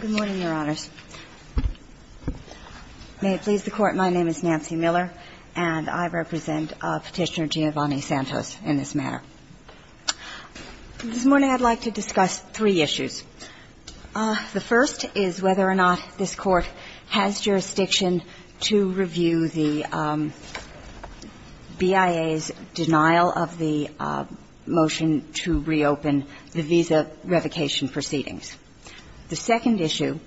Good morning, Your Honors. May it please the Court, my name is Nancy Miller, and I represent Petitioner Giovanni Santos in this matter. This morning I'd like to discuss three issues. The first is whether or not this Court has jurisdiction to review the BIA's denial of the motion to reopen the visa revocation proceedings. The second issue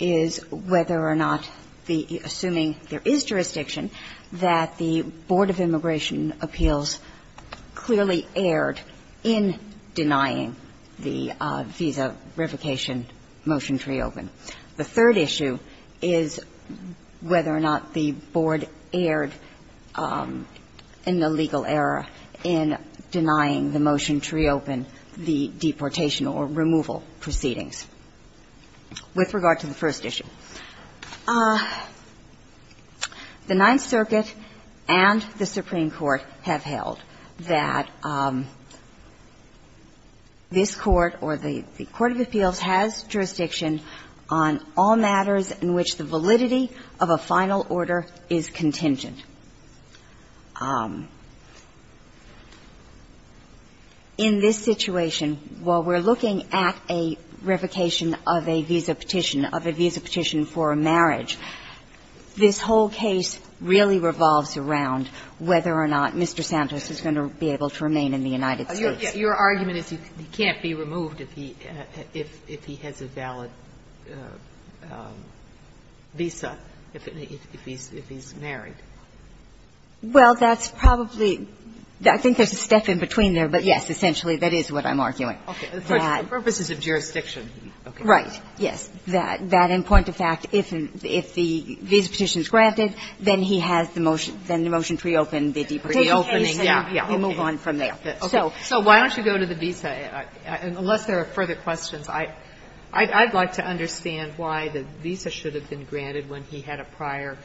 is whether or not the – assuming there is jurisdiction that the Board of Immigration Appeals clearly erred in denying the visa revocation motion to reopen. The third issue is whether or not the Board erred in the legal error in denying the motion to reopen the deportation or removal proceedings. With regard to the first issue, the Ninth Circuit and the Supreme Court have held that this Court, or the Court of Appeals, has jurisdiction on all matters in which the validity of a final order is contingent. In this situation, while we're looking at a revocation of a visa petition, of a visa petition for a marriage, this whole case really revolves around whether or not Mr. Santos is going to be able to remain in the United States. Your argument is he can't be removed if he has a valid visa, if he's married. Well, that's probably – I think there's a step in between there, but yes, essentially that is what I'm arguing. Okay. The purpose is of jurisdiction. Right. Yes. That in point of fact, if the visa petition is granted, then he has the motion to reopen the deportation case and move on from there. So why don't you go to the visa, unless there are further questions. I'd like to understand why the visa should have been granted when he had a prior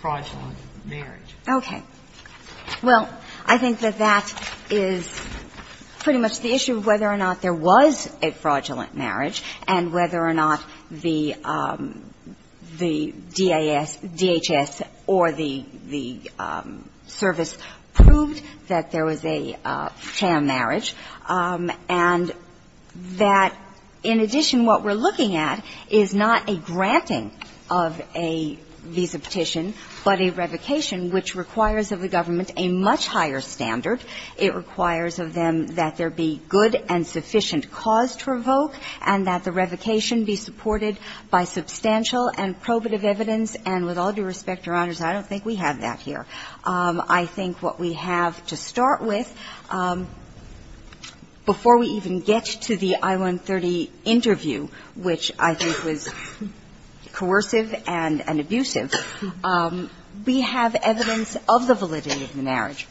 fraudulent marriage. Okay. Well, I think that that is pretty much the issue of whether or not there was a fraudulent marriage and whether or not the DHS or the service proved that there was a fraudulent sham marriage, and that in addition, what we're looking at is not a granting of a visa petition, but a revocation, which requires of the government a much higher standard. It requires of them that there be good and sufficient cause to revoke and that the revocation be supported by substantial and probative evidence. And with all due respect, Your Honors, I don't think we have that here. I think what we have to start with, before we even get to the I-130 interview, which I think was coercive and abusive, we have evidence of the validity of the marriage.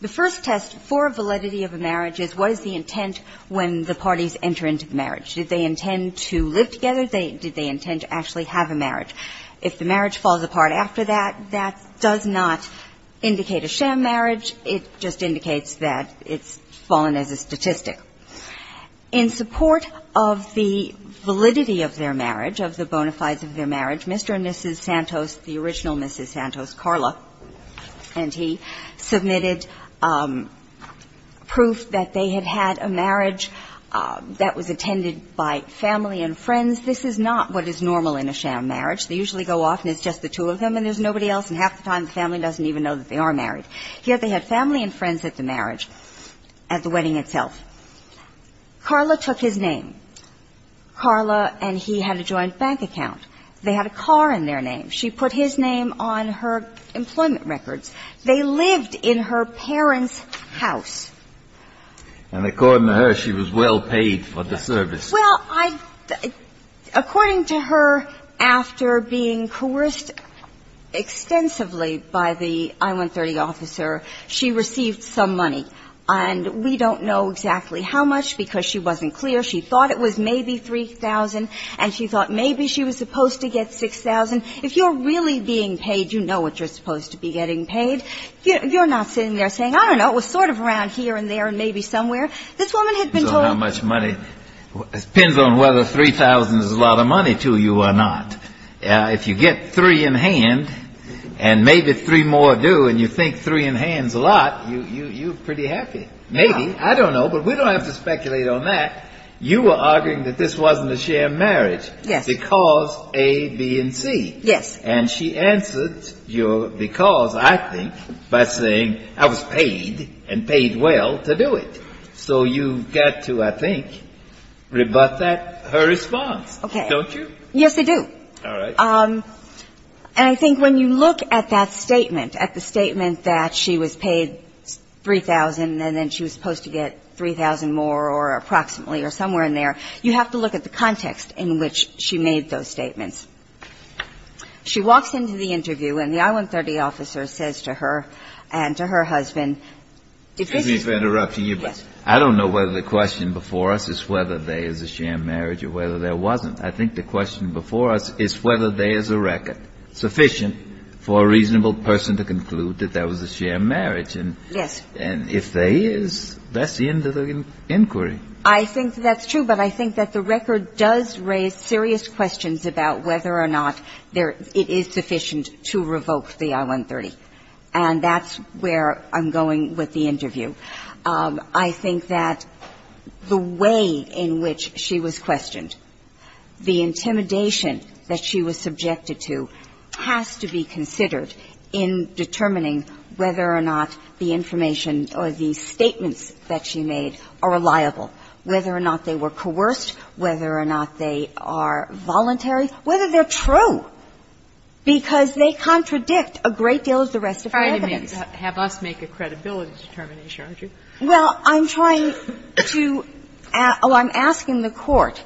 The first test for validity of a marriage is what is the intent when the parties enter into the marriage. Did they intend to live together? Did they intend to actually have a marriage? If the marriage falls apart after that, that does not indicate a sham marriage. It just indicates that it's fallen as a statistic. In support of the validity of their marriage, of the bona fides of their marriage, Mr. and Mrs. Santos, the original Mrs. Santos, Carla, and he submitted proof that they had had a marriage that was attended by family and friends. This is not what is normal in a sham marriage. They usually go off and it's just the two of them and there's nobody else, and half the time the family doesn't even know that they are married. Yet they had family and friends at the marriage, at the wedding itself. Carla took his name. Carla and he had a joint bank account. They had a car in their name. She put his name on her employment records. They lived in her parents' house. And according to her, she was well paid for the service. Well, I – according to her, after being coerced extensively by the I-130 officer, she received some money. And we don't know exactly how much because she wasn't clear. She thought it was maybe 3,000 and she thought maybe she was supposed to get 6,000. If you're really being paid, you know what you're supposed to be getting paid. You're not sitting there saying, I don't know, it was sort of around here. It was here and there and maybe somewhere. This woman had been told – So how much money? It depends on whether 3,000 is a lot of money to you or not. If you get three in hand and maybe three more do and you think three in hand is a lot, you're pretty happy. Maybe. I don't know. But we don't have to speculate on that. You were arguing that this wasn't a shared marriage because A, B, and C. Yes. And she answered your because, I think, by saying I was paid and paid well to do it. So you've got to, I think, rebut that, her response, don't you? Yes, I do. All right. And I think when you look at that statement, at the statement that she was paid 3,000 and then she was supposed to get 3,000 more or approximately or somewhere in there, you have to look at the context in which she made those statements. She walks into the interview and the I-130 officer says to her and to her husband, Excuse me for interrupting you, but I don't know whether the question before us is whether there is a shared marriage or whether there wasn't. I think the question before us is whether there is a record sufficient for a reasonable person to conclude that there was a shared marriage. Yes. And if there is, that's the end of the inquiry. I think that's true. But I think that the record does raise serious questions about whether or not there – it is sufficient to revoke the I-130. And that's where I'm going with the interview. I think that the way in which she was questioned, the intimidation that she was subjected to has to be considered in determining whether or not the information or the statements that she made are reliable, whether or not they were coerced, whether or not they are voluntary, whether they're true, because they contradict a great deal of the rest of her evidence. Kagan. Have us make a credibility determination, aren't you? Well, I'm trying to – oh, I'm asking the Court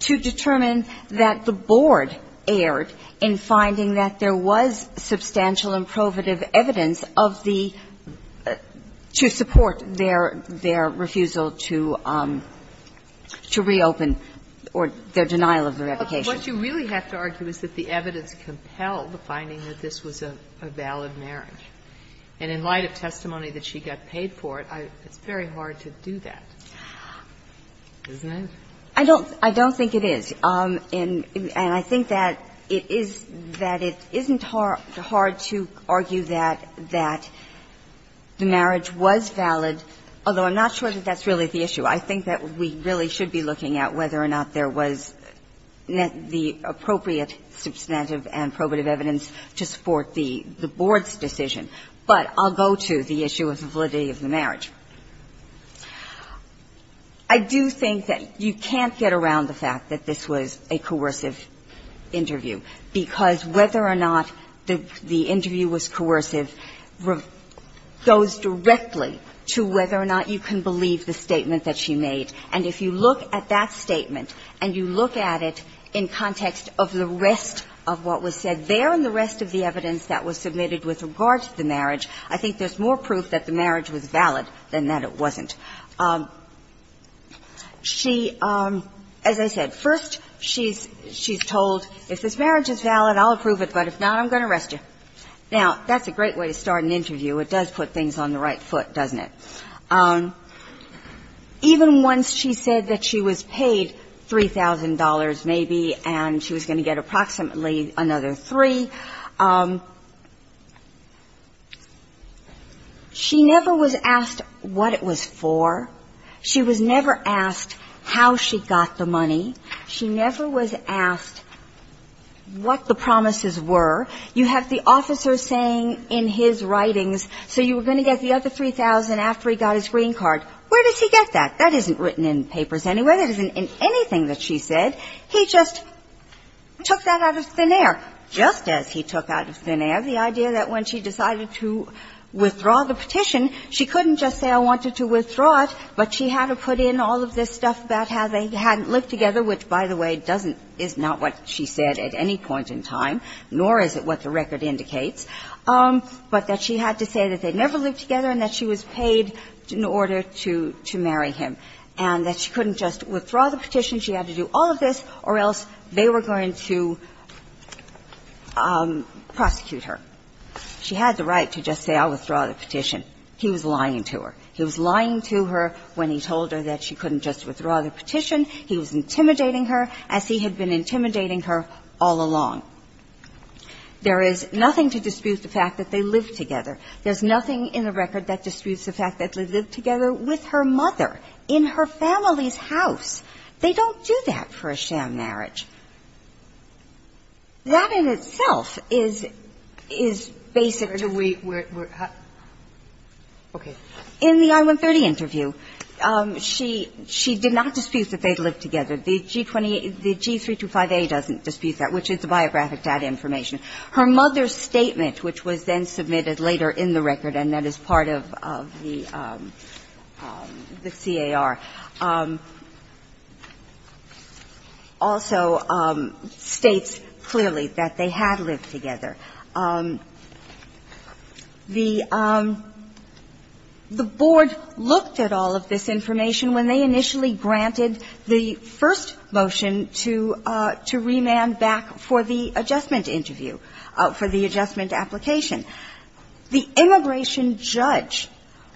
to determine that the board erred in finding that there was substantial and provative evidence of the – to support their refusal to reopen or their denial of the revocation. But what you really have to argue is that the evidence compelled the finding that this was a valid marriage. And in light of testimony that she got paid for it, it's very hard to do that, isn't it? I don't think it is. And I think that it is – that it isn't hard to argue that the marriage was valid although I'm not sure that that's really the issue. I think that we really should be looking at whether or not there was the appropriate substantive and probative evidence to support the board's decision. But I'll go to the issue of validity of the marriage. I do think that you can't get around the fact that this was a coercive interview, because whether or not the interview was coercive goes directly to whether or not you can believe the statement that she made. And if you look at that statement and you look at it in context of the rest of what was said there and the rest of the evidence that was submitted with regard to the marriage, I think there's more proof that the marriage was valid than that it wasn't. She – as I said, first she's told, if this marriage is valid, I'll approve it, but if not, I'm going to arrest you. Now, that's a great way to start an interview. It does put things on the right foot, doesn't it? Even once she said that she was paid $3,000 maybe and she was going to get approximately another three, she never was asked what it was for. She was never asked how she got the money. She never was asked what the promises were. You have the officer saying in his writings, so you were going to get the other $3,000 after he got his green card. Where does he get that? That isn't written in papers anywhere. That isn't in anything that she said. He just took that out of thin air, just as he took out of thin air the idea that when she decided to withdraw the petition, she couldn't just say, I wanted to withdraw it, but she had to put in all of this stuff about how they hadn't lived together, which, by the way, doesn't – is not what she said at any point in time, nor is it what the record indicates, but that she had to say that they'd never lived together and that she was paid in order to marry him, and that she couldn't just withdraw the petition, she had to do all of this, or else they were going to prosecute her. She had the right to just say, I'll withdraw the petition. He was lying to her. He was lying to her when he told her that she couldn't just withdraw the petition. He was intimidating her, as he had been intimidating her all along. There is nothing to dispute the fact that they lived together. There's nothing in the record that disputes the fact that they lived together with her mother in her family's house. They don't do that for a sham marriage. That in itself is – is basic to where we're at. In the I-130 interview, she – she did not dispute that they'd lived together. The G-28 – the G-325A doesn't dispute that, which is the biographic data information. Her mother's statement, which was then submitted later in the record and that is part of the C.A.R., also states clearly that they had lived together. The Board looked at all of this information when they initially granted the first motion to – to remand back for the adjustment interview, for the adjustment application. The immigration judge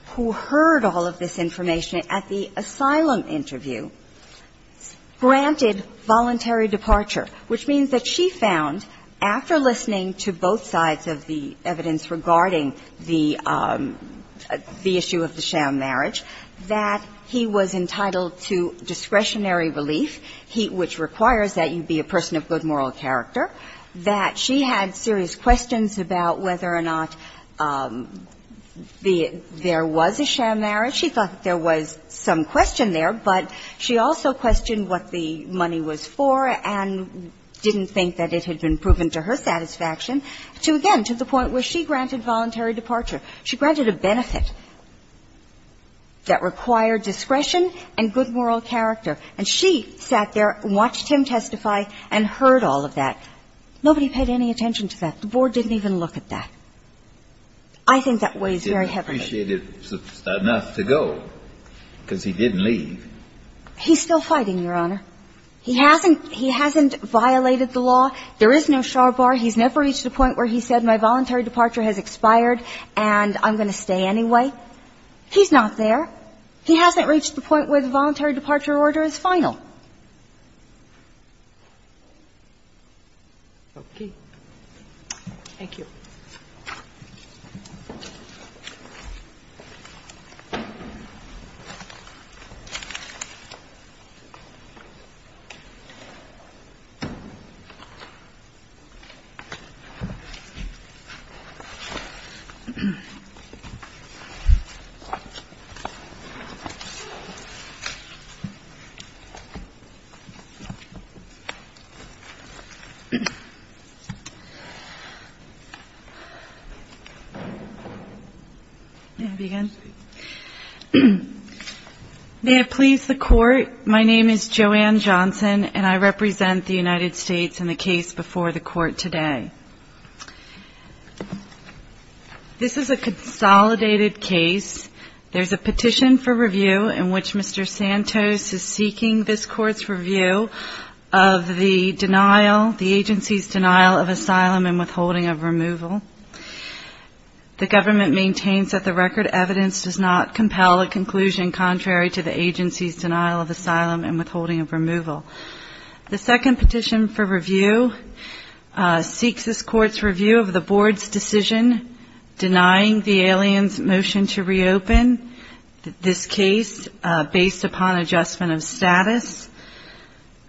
who heard all of this information at the asylum interview granted voluntary departure, which means that she found, after listening to both sides of the evidence regarding the – the issue of the sham marriage, that he was entitled to discretionary relief, he – which requires that you be a person of good moral character, that she had serious questions about whether or not the – there was a sham marriage. She thought that there was some question there, but she also questioned what the money was for and didn't think that it had been proven to her satisfaction to, again, to the point where she granted voluntary departure. She granted a benefit that required discretion and good moral character. And she sat there and watched him testify and heard all of that. Nobody paid any attention to that. The Board didn't even look at that. I think that weighs very heavily. Kennedy. He didn't appreciate it enough to go, because he didn't leave. He's still fighting, Your Honor. He hasn't – he hasn't violated the law. There is no char bar. He's never reached a point where he said, my voluntary departure has expired and I'm going to stay anyway. He's not there. He hasn't reached the point where the voluntary departure order is final. Okay. Thank you. May I begin? May I please the Court? My name is Joanne Johnson, and I represent the United States in the case before the Court today. This is a consolidated case. There's a petition for review in which Mr. Santos is seeking this Court's review of the agency's denial of asylum and withholding of removal. The government maintains that the record evidence does not compel a conclusion contrary to the agency's denial of asylum and withholding of removal. The second petition for review seeks this Court's review of the Board's decision denying the aliens' motion to reopen this case based upon adjustment of status.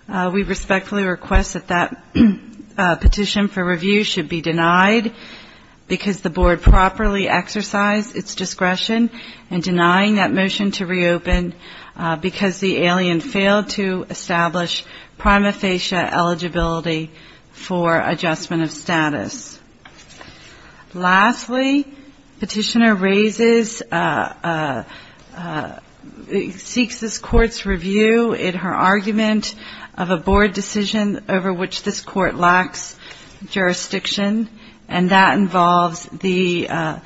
We respectfully request that that petition for review should be denied because the Board properly exercised its discretion in denying that motion to reopen because the alien failed to establish prima facie eligibility for adjustment of status. Lastly, the petitioner seeks this Court's review in her argument of a Board decision over which this Court lacks jurisdiction, and that involves the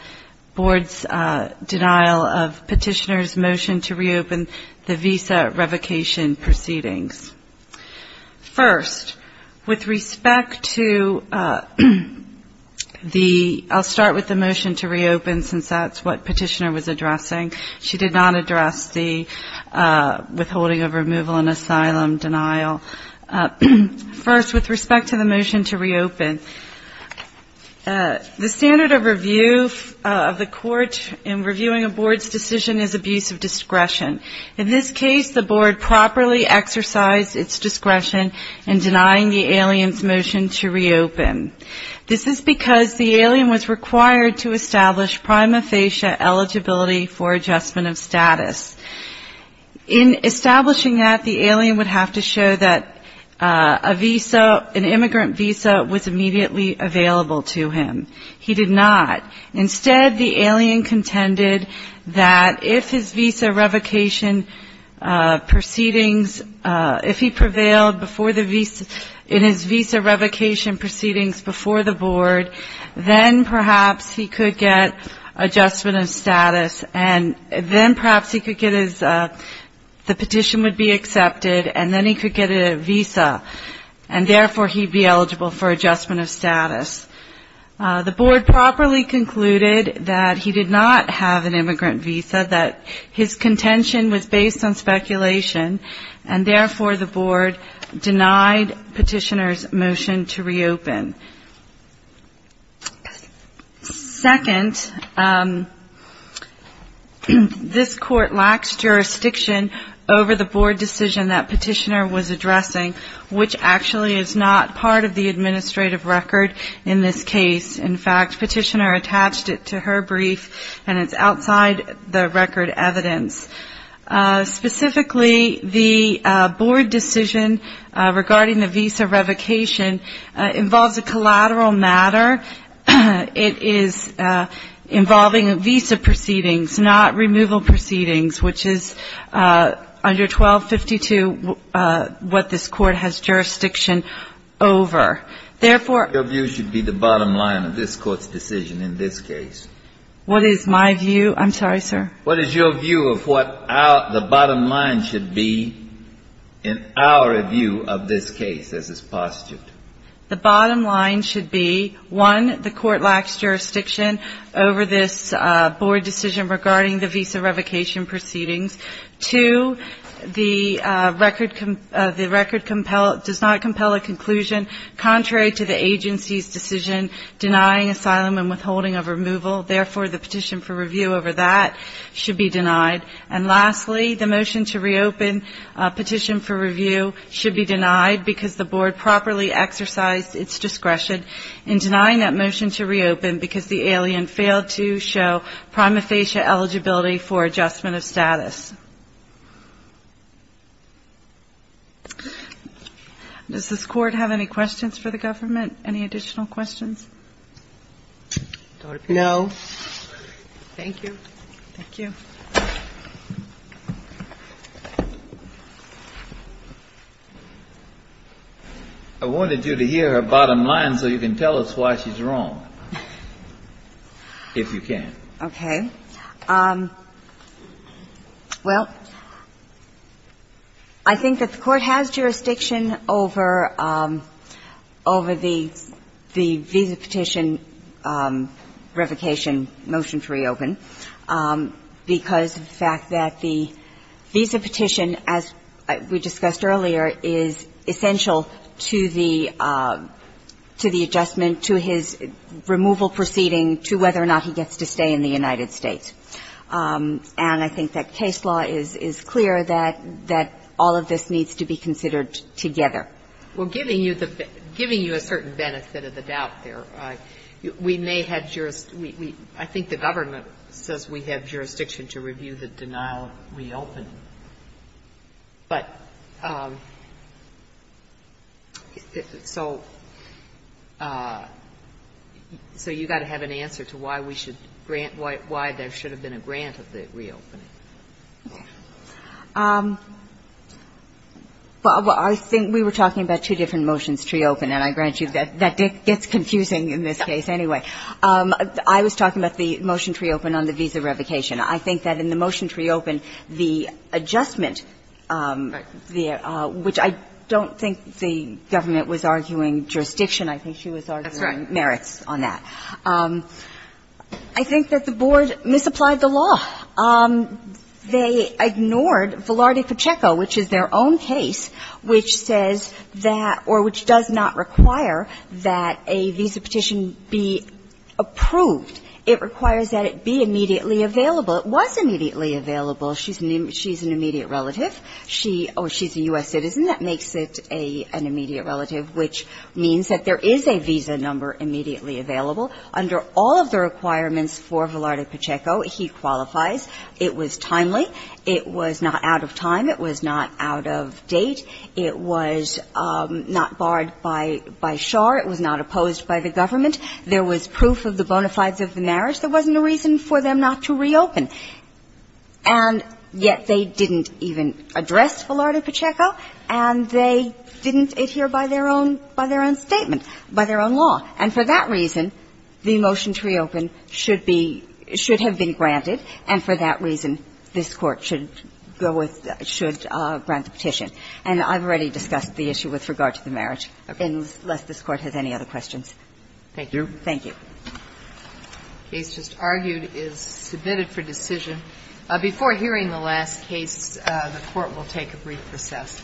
Board's denial of the petitioner's motion to reopen the visa revocation proceedings. First, with respect to the, I'll start with the motion to reopen since that's what the petitioner was addressing. She did not address the withholding of removal and asylum denial. First, with respect to the motion to reopen, the standard of review of the Court in reviewing a Board's decision is abuse of discretion. In this case, the Board properly exercised its discretion in denying the alien's motion to reopen. This is because the alien was required to establish prima facie eligibility for adjustment of status. In establishing that, the alien would have to show that an immigrant visa was immediately available to him. He did not. Instead, the alien contended that if his visa revocation proceedings, if he prevailed in his visa revocation proceedings before the Board, then perhaps he could get adjustment of status, and then perhaps he could get his, the petition would be accepted, and then he could get a visa, and therefore he'd be eligible for adjustment of status. The Board properly concluded that he did not have an immigrant visa, that his contention was based on speculation, and therefore the Board denied petitioner's motion to reopen. Second, this Court lacks jurisdiction over the Board decision that petitioner was addressing, which actually is not part of the administrative record in this case, in fact, petitioner attached it to her brief, and it's outside the record evidence. Specifically, the Board decision regarding the visa revocation involves a collateral matter, it is involving visa proceedings, not removal proceedings, which is under 1252 what this Court has jurisdiction over. Therefore ---- What is your view of what the bottom line should be in our review of this case, as is postulated? The bottom line should be, one, the Court lacks jurisdiction over this Board decision regarding the visa revocation proceedings. Two, the record does not compel a conclusion contrary to the agency's decision denying asylum and withholding of removal, therefore the petition for review over that should be denied. And lastly, the motion to reopen petition for review should be denied because the Board has not approved the visa revocation proceedings. Does this Court have any questions for the government, any additional questions? No. I wanted you to hear her bottom line so you can tell us why she's wrong, if you can. Okay. Well, I think that the Court has jurisdiction over the visa petition revocation motion to reopen because of the fact that the visa petition, as we discussed earlier, is essential to the adjustment, to his removal proceeding, to whether or not he gets to stay in the United States. And I think that case law is clear that all of this needs to be considered together. Well, giving you a certain benefit of the doubt there, we may have jurisdiction we, I think the government says we have jurisdiction to review the denial of reopening. But so you've got to have an answer to why we need to reopen. And I think that's why we should grant why there should have been a grant of the reopening. Well, I think we were talking about two different motions to reopen, and I grant you that that gets confusing in this case anyway. I was talking about the motion to reopen on the visa revocation. I think that in the motion to reopen, the adjustment there, which I don't think the government was arguing jurisdiction, I think she was arguing merits on that. I think that the Board misapplied the law. They ignored Velarde-Pacheco, which is their own case, which says that or which does not require that a visa petition be approved. It requires that it be immediately available. It was immediately available. She's an immediate relative. She's a U.S. citizen. That makes it an immediate available. Under all of the requirements for Velarde-Pacheco, he qualifies. It was timely. It was not out of time. It was not out of date. It was not barred by Schar. It was not opposed by the government. There was proof of the bona fides of the marriage. There wasn't a reason for them not to reopen. And yet they didn't even address Velarde-Pacheco, and they didn't adhere by their own statement, by their own law. And for that reason, the motion to reopen should be – should have been granted, and for that reason, this Court should go with – should grant the petition. And I've already discussed the issue with regard to the marriage, unless this Court has any other questions. Thank you. Thank you. The case just argued is submitted for decision. Before hearing the last case, the Court will take a brief recess.